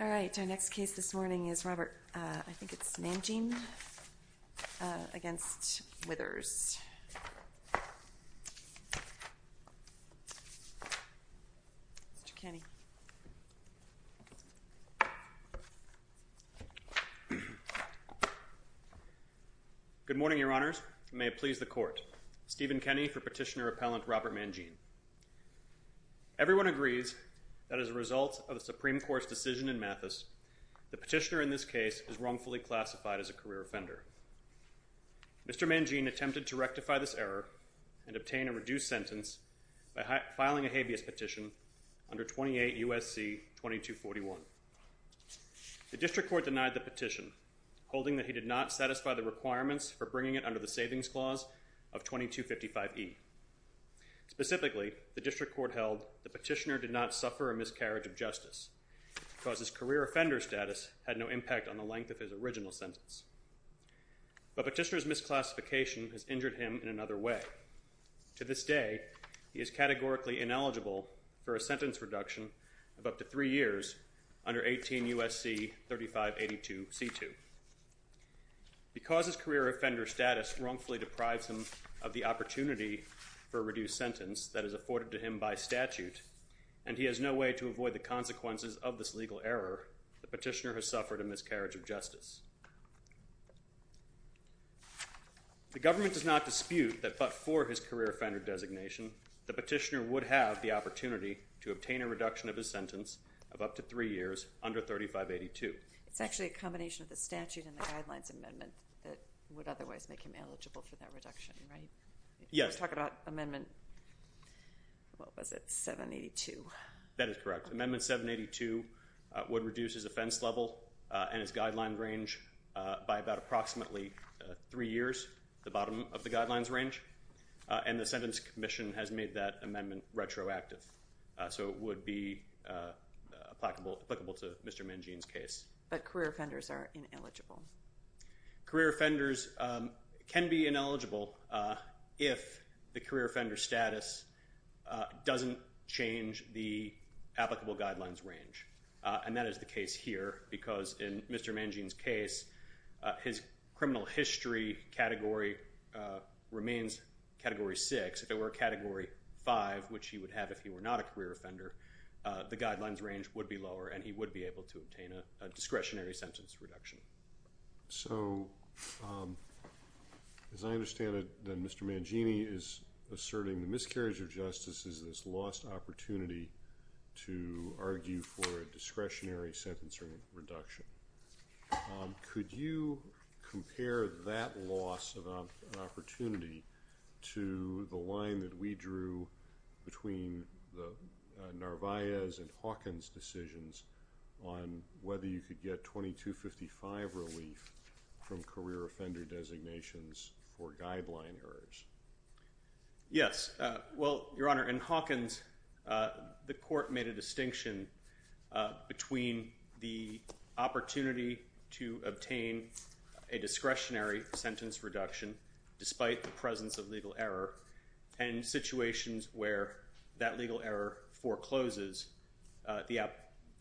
All right, our next case this morning is Robert, uh, I think it's Mangine, uh, against Withers. Mr. Kenney. Good morning, Your Honors. May it please the Court. Stephen Kenney for Petitioner-Appellant Robert Mangine. Everyone agrees that as a result of the Supreme Court's decision in Mathis, the petitioner in this case is wrongfully classified as a career offender. Mr. Mangine attempted to rectify this error and obtain a reduced sentence by filing a habeas petition under 28 U.S.C. 2241. The District Court denied the petition, holding that he did not satisfy the requirements for bringing it under the Savings Clause of 2255e. Specifically, the District Court held the petitioner did not suffer a miscarriage of justice because his career offender status had no impact on the length of his original sentence. But petitioner's misclassification has injured him in another way. To this day, he is categorically ineligible for a sentence reduction of up to three years under 18 U.S.C. 3582c2. Because his career offender status wrongfully deprives him of the opportunity for a reduced sentence that is afforded to him by statute, and he has no way to avoid the consequences of this legal error, the petitioner has suffered a miscarriage of justice. The government does not dispute that but for his career offender designation, the petitioner would have the opportunity to obtain a reduction of his sentence of up to three years under 3582. It's actually a combination of the statute and the Guidelines Amendment that would otherwise make him eligible for that reduction, right? Yes. Let's talk about Amendment, what was it, 782. That is correct. Amendment 782 would reduce his offense level and his guideline range by about approximately three years, the bottom of the guidelines range. And the Sentence Commission has made that amendment retroactive. So it would be applicable to Mr. Mangin's case. But career offenders are ineligible. Career offenders can be ineligible if the career offender status doesn't change the applicable guidelines range. And that is the case here because in Mr. Mangin's case, his criminal history category remains Category 6. If it were Category 5, which he would have if he were not a career offender, the guidelines range would be lower and he would be able to obtain a discretionary sentence reduction. So, as I understand it, then Mr. Mangini is asserting the miscarriage of justice is this lost opportunity to argue for a discretionary sentence reduction. Could you compare that loss of an opportunity to the line that we drew between the Narvaez and Hawkins decisions on whether you could get 2255 relief from career offender designations for guideline errors? Yes. Well, Your Honor, in Hawkins, the court made a distinction between the opportunity to obtain a discretionary sentence reduction despite the presence of legal error and situations where that legal error forecloses the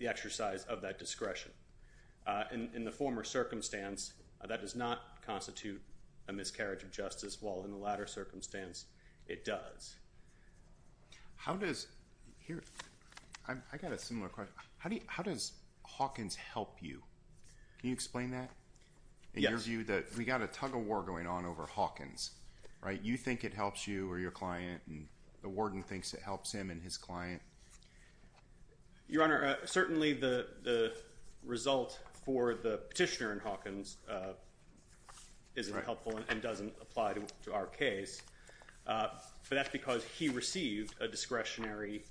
exercise of that discretion. In the former circumstance, that does not constitute a miscarriage of justice, while in the latter circumstance, it does. I got a similar question. How does Hawkins help you? Can you explain that? In your view, we got a tug-of-war going on over Hawkins, right? You think it helps you or your client and the warden thinks it helps him and his client? Your Honor, certainly the result for the petitioner in Hawkins isn't helpful and doesn't apply to our case, but that's because he received a discretionary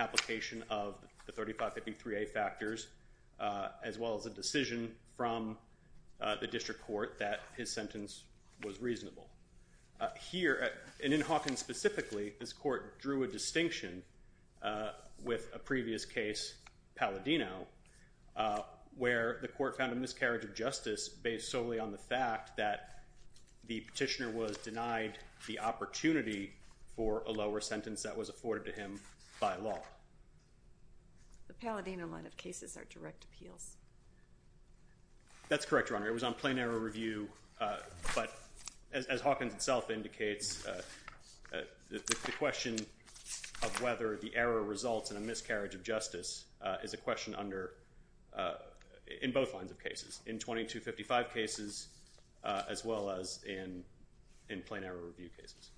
application of the 3553A factors, as well as a decision from the district court that his sentence was reasonable. Here, and in Hawkins specifically, this court drew a distinction with a previous case, Palladino, where the court found a miscarriage of justice based solely on the fact that the petitioner was denied the opportunity for a lower sentence that was afforded to him by law. The Palladino line of cases are direct appeals. That's correct, Your Honor. It was on plain error review, but as Hawkins itself indicates, the question of whether the error results in a miscarriage of justice is a question in both lines of cases, in 2255 cases as well as in plain error review cases.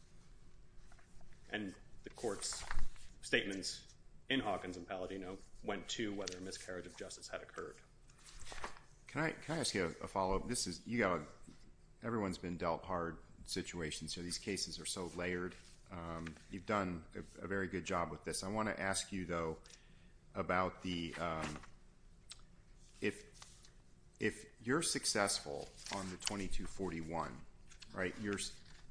And the court's statements in Hawkins and Palladino went to whether a miscarriage of justice had occurred. Can I ask you a follow-up? Everyone's been dealt hard situations here. These cases are so layered. You've done a very good job with this. I want to ask you, though, about if you're successful on the 2241,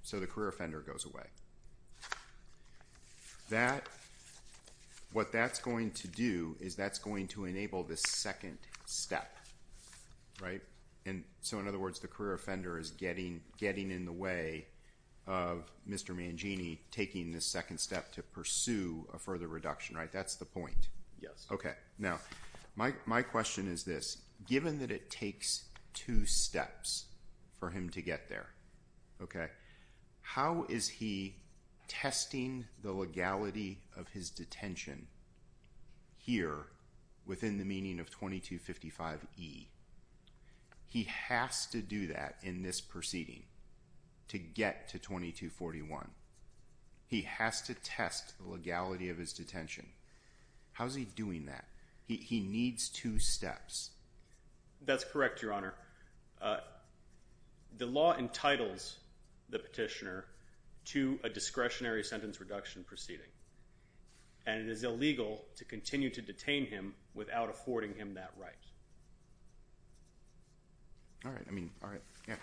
so the career offender goes away, what that's going to do is that's going to enable the second step. Right? And so, in other words, the career offender is getting in the way of Mr. Mangini taking the second step to pursue a further reduction, right? That's the point. Okay. Now, my question is this. Given that it takes two steps for him to get there, okay, how is he testing the legality of his detention here within the meaning of 2255E? He has to do that in this proceeding to get to 2241. He has to test the legality of his detention. How's he doing that? He needs two steps. That's correct, Your Honor. The law entitles the petitioner to a discretionary sentence reduction proceeding, and it is illegal to continue to detain him without affording him that right. All right. I mean, all right. Yeah.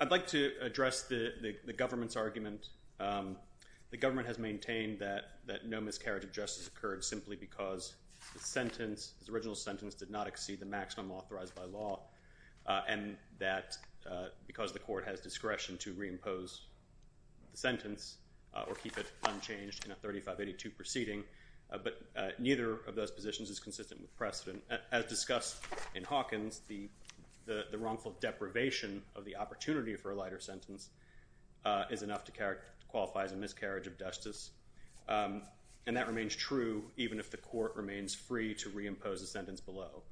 I'd like to address the government's argument. The government has maintained that no miscarriage of justice occurred simply because the sentence, his original sentence, did not exceed the maximum authorized by law, and that because the court has discretion to reimpose the sentence or keep it unchanged in a 3582 proceeding, but neither of those positions is consistent with precedent. As discussed in Hawkins, the wrongful deprivation of the opportunity for a lighter sentence is enough to qualify as a miscarriage of justice, and that remains true even if the court remains free to reimpose the sentence below.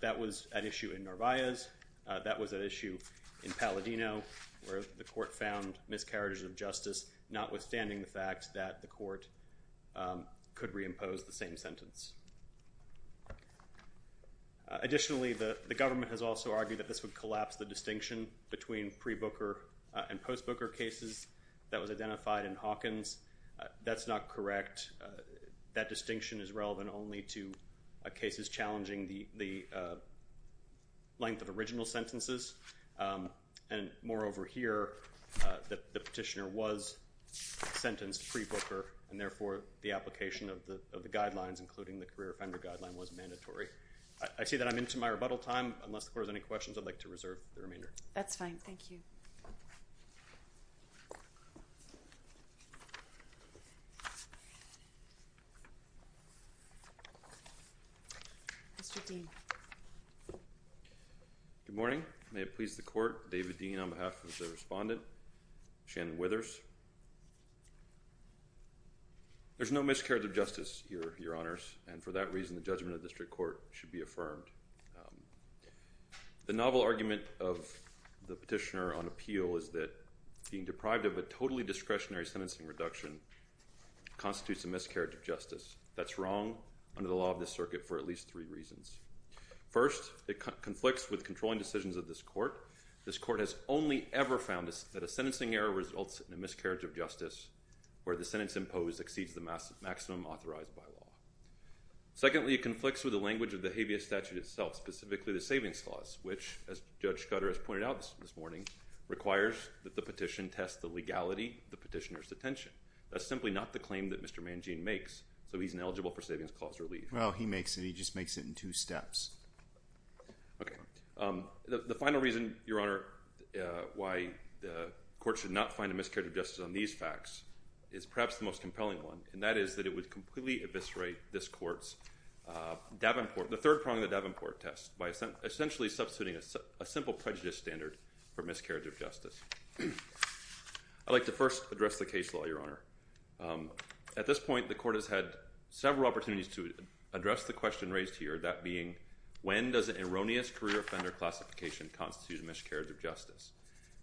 That was an issue in Narvaez. That was an issue in Palladino, where the court found miscarriages of justice, notwithstanding the fact that the court could reimpose the same sentence. Additionally, the government has also argued that this would collapse the distinction between pre-Booker and post-Booker cases that was identified in Hawkins. That's not correct. That distinction is relevant only to cases challenging the length of original sentences. And moreover here, the petitioner was sentenced pre-Booker, and therefore the application of the guidelines, including the career offender guideline, was mandatory. I see that I'm into my rebuttal time. Unless the court has any questions, I'd like to reserve the remainder. That's fine. Thank you. Mr. Dean. Good morning. May it please the court, David Dean on behalf of the respondent, Shannon Withers. There's no miscarriage of justice, Your Honors, and for that reason the judgment of the district court should be affirmed. The novel argument of the petitioner on appeal is that being deprived of a totally discretionary sentencing reduction constitutes a miscarriage of justice. That's wrong under the law of this circuit for at least three reasons. First, it conflicts with controlling decisions of this court. This court has only ever found that a sentencing error results in a miscarriage of justice where the sentence imposed exceeds the maximum authorized by law. Secondly, it conflicts with the language of the habeas statute itself, specifically the savings clause, which, as Judge Scudder has pointed out this morning, requires that the petition test the legality of the petitioner's detention. That's simply not the claim that Mr. Mangin makes, so he's ineligible for savings clause relief. Well, he makes it. He just makes it in two steps. Okay. The final reason, Your Honor, why the court should not find a miscarriage of justice on these facts is perhaps the most compelling one, and that is that it would completely eviscerate this court's Davenport—the third prong of the Davenport test by essentially substituting a simple prejudice standard for miscarriage of justice. I'd like to first address the case law, Your Honor. At this point, the court has had several opportunities to address the question raised here, that being, when does an erroneous career offender classification constitute a miscarriage of justice?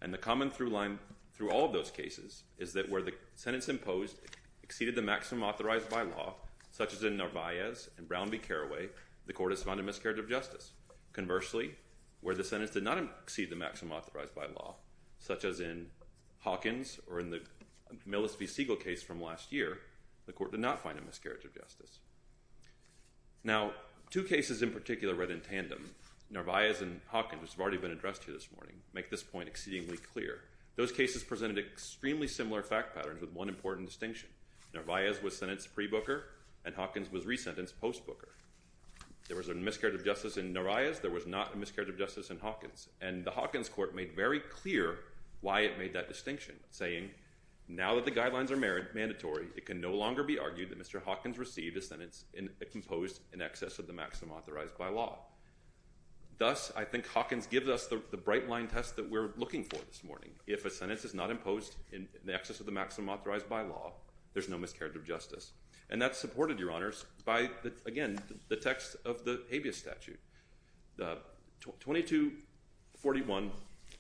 And the common through line through all of those cases is that where the sentence imposed exceeded the maximum authorized by law, such as in Narvaez and Brown v. Carraway, the court has found a miscarriage of justice. Conversely, where the sentence did not exceed the maximum authorized by law, such as in Hawkins or in the Millis v. Siegel case from last year, the court did not find a miscarriage of justice. Now, two cases in particular read in tandem, Narvaez and Hawkins, which have already been addressed here this morning, and make this point exceedingly clear. Those cases presented extremely similar fact patterns with one important distinction. Narvaez was sentenced pre-booker, and Hawkins was resentenced post-booker. There was a miscarriage of justice in Narvaez. There was not a miscarriage of justice in Hawkins. And the Hawkins court made very clear why it made that distinction, saying, now that the guidelines are mandatory, it can no longer be argued that Mr. Hawkins received a sentence imposed in excess of the maximum authorized by law. Thus, I think Hawkins gives us the bright line test that we're looking for this morning. If a sentence is not imposed in excess of the maximum authorized by law, there's no miscarriage of justice. And that's supported, Your Honors, by, again, the text of the habeas statute. The 2241,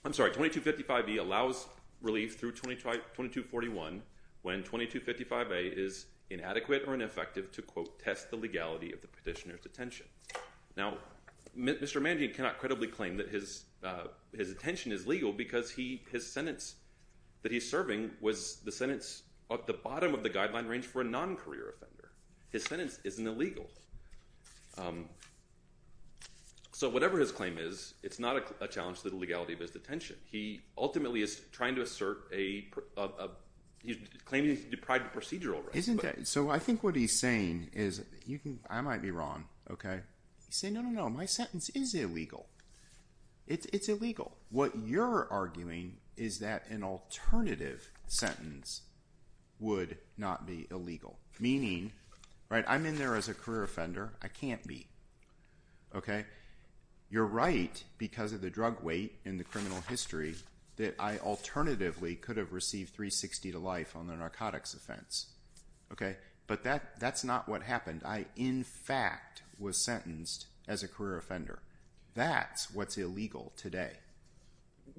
I'm sorry, 2255B allows relief through 2241 when 2255A is inadequate or ineffective to, quote, test the legality of the petitioner's detention. Now, Mr. Mangin cannot credibly claim that his detention is legal because his sentence that he's serving was the sentence at the bottom of the guideline range for a non-career offender. His sentence isn't illegal. So whatever his claim is, it's not a challenge to the legality of his detention. He ultimately is trying to assert a – he's claiming he's deprived of procedural rights. Isn't that – so I think what he's saying is you can – I might be wrong, okay? He's saying, no, no, no, my sentence is illegal. It's illegal. What you're arguing is that an alternative sentence would not be illegal. Meaning, right, I'm in there as a career offender. I can't be, okay? You're right because of the drug weight in the criminal history that I alternatively could have received 360 to life on the narcotics offense, okay? But that's not what happened. I, in fact, was sentenced as a career offender. That's what's illegal today.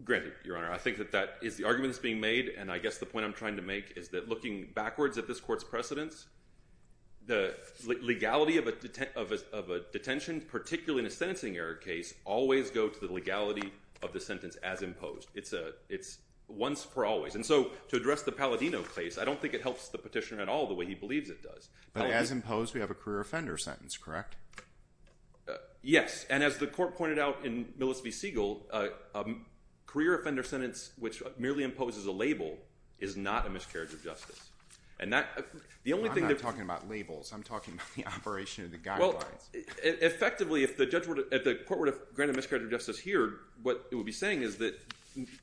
Granted, Your Honor, I think that that is the argument that's being made, and I guess the point I'm trying to make is that looking backwards at this court's precedence, the legality of a detention, particularly in a sentencing error case, always go to the legality of the sentence as imposed. It's once for always. And so to address the Palladino case, I don't think it helps the petitioner at all the way he believes it does. But as imposed, we have a career offender sentence, correct? Yes, and as the court pointed out in Millis v. Siegel, a career offender sentence which merely imposes a label is not a miscarriage of justice. I'm not talking about labels. I'm talking about the operation of the guidelines. Effectively, if the court were to grant a miscarriage of justice here, what it would be saying is that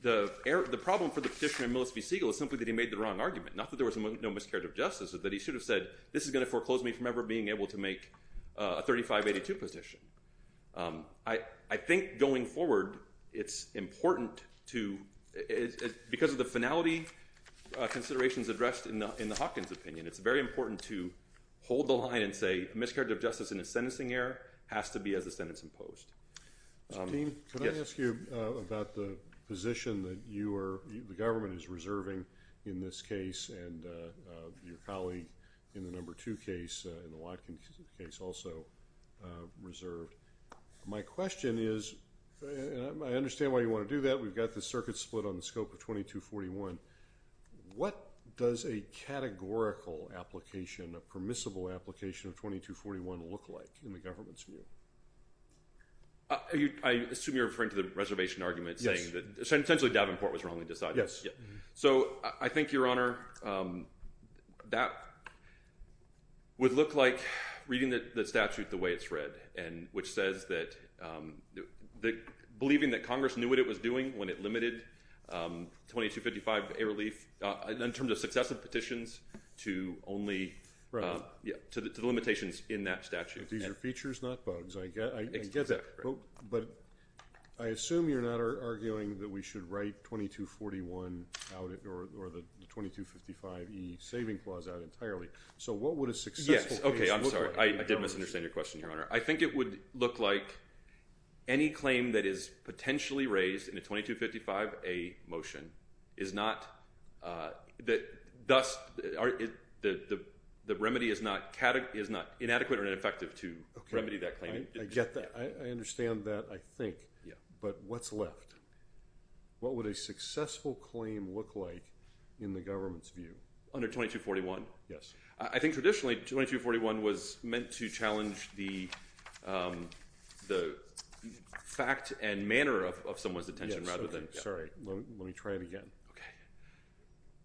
the problem for the petitioner in Millis v. Siegel is simply that he made the wrong argument, not that there was no miscarriage of justice, but that he should have said, this is going to foreclose me from ever being able to make a 3582 petition. I think going forward it's important to, because of the finality considerations addressed in the Hopkins opinion, it's very important to hold the line and say a miscarriage of justice in a sentencing error has to be as the sentence imposed. Steve, can I ask you about the position that the government is reserving in this case and your colleague in the number two case, in the Watkins case also reserved. My question is, and I understand why you want to do that. We've got the circuit split on the scope of 2241. What does a categorical application, a permissible application of 2241 look like in the government's view? I assume you're referring to the reservation argument saying that essentially Davenport was wrongly decided. Yes. So I think, Your Honor, that would look like reading the statute the way it's read, which says that believing that Congress knew what it was doing when it limited 2255, a relief, in terms of successive petitions to only, to the limitations in that statute. These are features, not bugs. I get that. But I assume you're not arguing that we should write 2241 out or the 2255E saving clause out entirely. So what would a successful case look like? Yes. I think it would look like any claim that is potentially raised in a 2255A motion is not, thus the remedy is not inadequate or ineffective to remedy that claim. I get that. I understand that, I think. But what's left? What would a successful claim look like in the government's view? Under 2241? Yes. I think traditionally 2241 was meant to challenge the fact and manner of someone's attention rather than. Sorry. Let me try it again. Okay.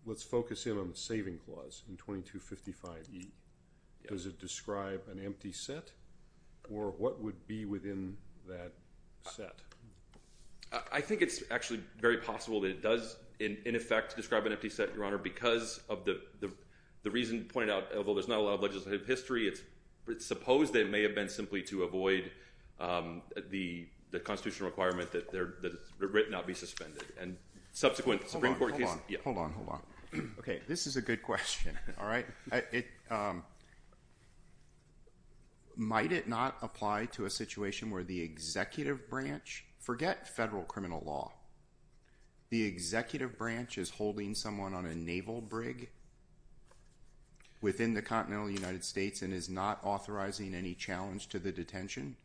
Let's focus in on the saving clause in 2255E. Does it describe an empty set or what would be within that set? I think it's actually very possible that it does, in effect, describe an empty set, Your Honor, because of the reason pointed out, although there's not a lot of legislative history, it's supposed that it may have been simply to avoid the constitutional requirement that it not be suspended. And subsequent Supreme Court cases. Hold on, hold on. Okay. This is a good question. All right? Might it not apply to a situation where the executive branch, forget federal criminal law, the executive branch is holding someone on a naval brig within the continental United States and is not authorizing any challenge to the detention?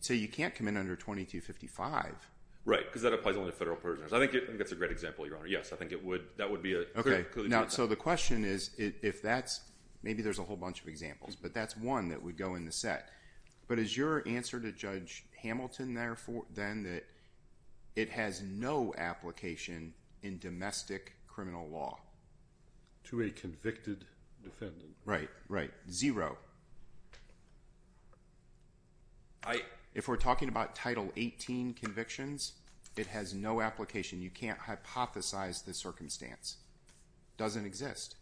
So you can't come in under 2255. Right, because that applies only to federal prisoners. I think that's a great example, Your Honor. Yes, I think it would. That would be a. Okay. So the question is if that's, maybe there's a whole bunch of examples, but that's one that would go in the set. But is your answer to Judge Hamilton, then, that it has no application in domestic criminal law? To a convicted defendant. Right, right. Zero. If we're talking about Title 18 convictions, it has no application. You can't hypothesize the circumstance. Doesn't exist.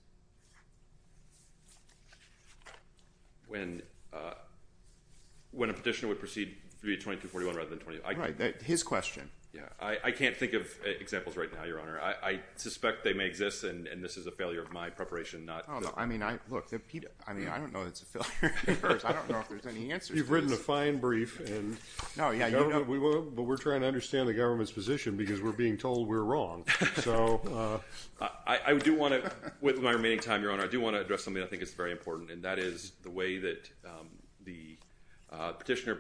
When a petitioner would proceed to be at 2241 rather than 2241. Right, his question. I can't think of examples right now, Your Honor. I suspect they may exist, and this is a failure of my preparation. Oh, no. I mean, look, I don't know that it's a failure of yours. I don't know if there's any answers to this. You've written a fine brief, but we're trying to understand the government's position because we're being told we're wrong. I do want to, with my remaining time, Your Honor, I do want to address something that I think is very important, and that is the way that the petitioner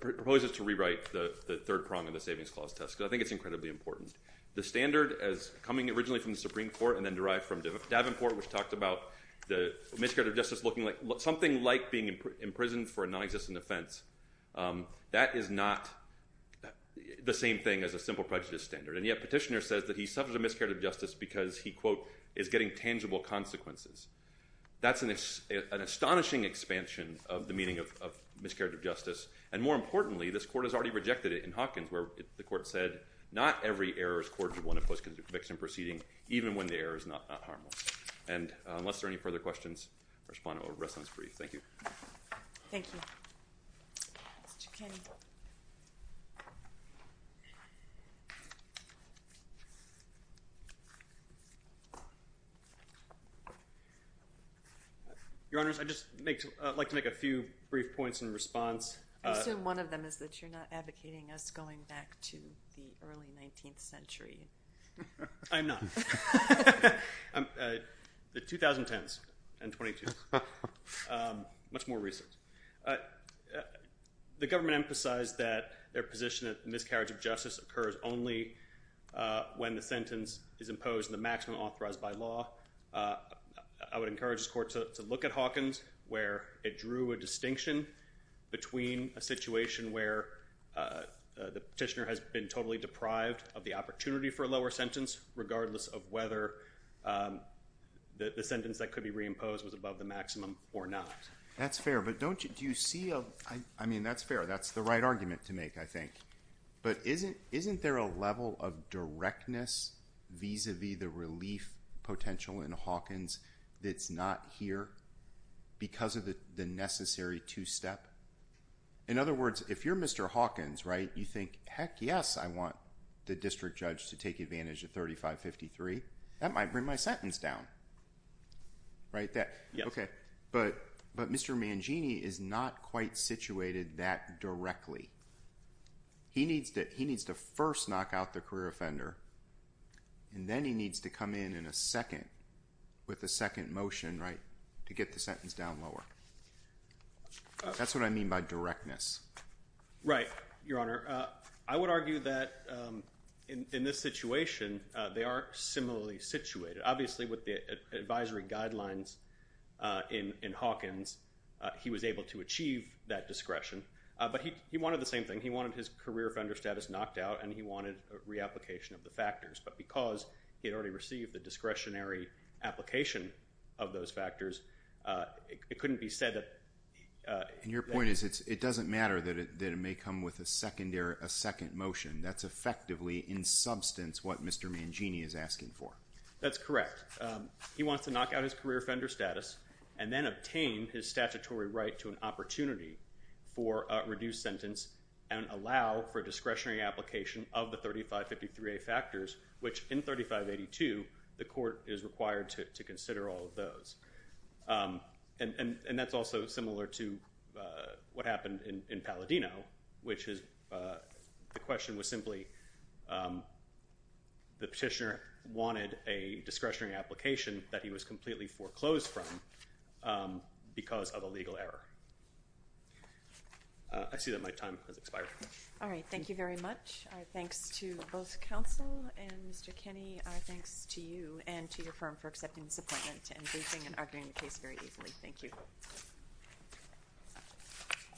proposes to rewrite the third prong of the Savings Clause test, because I think it's incredibly important. The standard as coming originally from the Supreme Court and then derived from Davenport, which talked about the Miscarriage of Justice looking like something like being imprisoned for a non-existent offense, that is not the same thing as a simple prejudice standard. And yet petitioner says that he suffers a Miscarriage of Justice because he, quote, is getting tangible consequences. That's an astonishing expansion of the meaning of Miscarriage of Justice, and more importantly, this Court has already rejected it in Hawkins where the Court said, not every error is cordial in a post-conviction proceeding, even when the error is not harmless. And unless there are any further questions, I respond to a restless brief. Thank you. Thank you. Mr. Kinney. Your Honors, I'd just like to make a few brief points in response. I assume one of them is that you're not advocating us going back to the early 19th century. I am not. The 2010s and 2012s, much more recent. The government emphasized that their position that Miscarriage of Justice occurs only when the sentence is imposed in the maximum authorized by law. I would encourage this Court to look at Hawkins where it drew a distinction between a situation where the petitioner has been totally deprived of the opportunity for a lower sentence, regardless of whether the sentence that could be reimposed was above the maximum or not. That's fair, but don't you see a – I mean, that's fair. That's the right argument to make, I think. But isn't there a level of directness vis-à-vis the relief potential in Hawkins that's not here because of the necessary two-step? In other words, if you're Mr. Hawkins, right, you think, heck yes, I want the district judge to take advantage of 3553. That might bring my sentence down, right? Yes. Okay, but Mr. Mangini is not quite situated that directly. He needs to first knock out the career offender, and then he needs to come in in a second with a second motion, right, to get the sentence down lower. That's what I mean by directness. Right, Your Honor. I would argue that in this situation, they are similarly situated. Obviously, with the advisory guidelines in Hawkins, he was able to achieve that discretion, but he wanted the same thing. He wanted his career offender status knocked out, and he wanted a reapplication of the factors. But because he had already received the discretionary application of those factors, it couldn't be said that— And your point is it doesn't matter that it may come with a second motion. That's effectively, in substance, what Mr. Mangini is asking for. That's correct. He wants to knock out his career offender status and then obtain his statutory right to an opportunity for a reduced sentence and allow for discretionary application of the 3553A factors, which in 3582, the court is required to consider all of those. And that's also similar to what happened in Palladino, which is the question was simply the petitioner wanted a discretionary application that he was completely foreclosed from because of a legal error. I see that my time has expired. All right. Thank you very much. Our thanks to both counsel and Mr. Kenney. Our thanks to you and to your firm for accepting this appointment and briefing and arguing the case very easily. Thank you.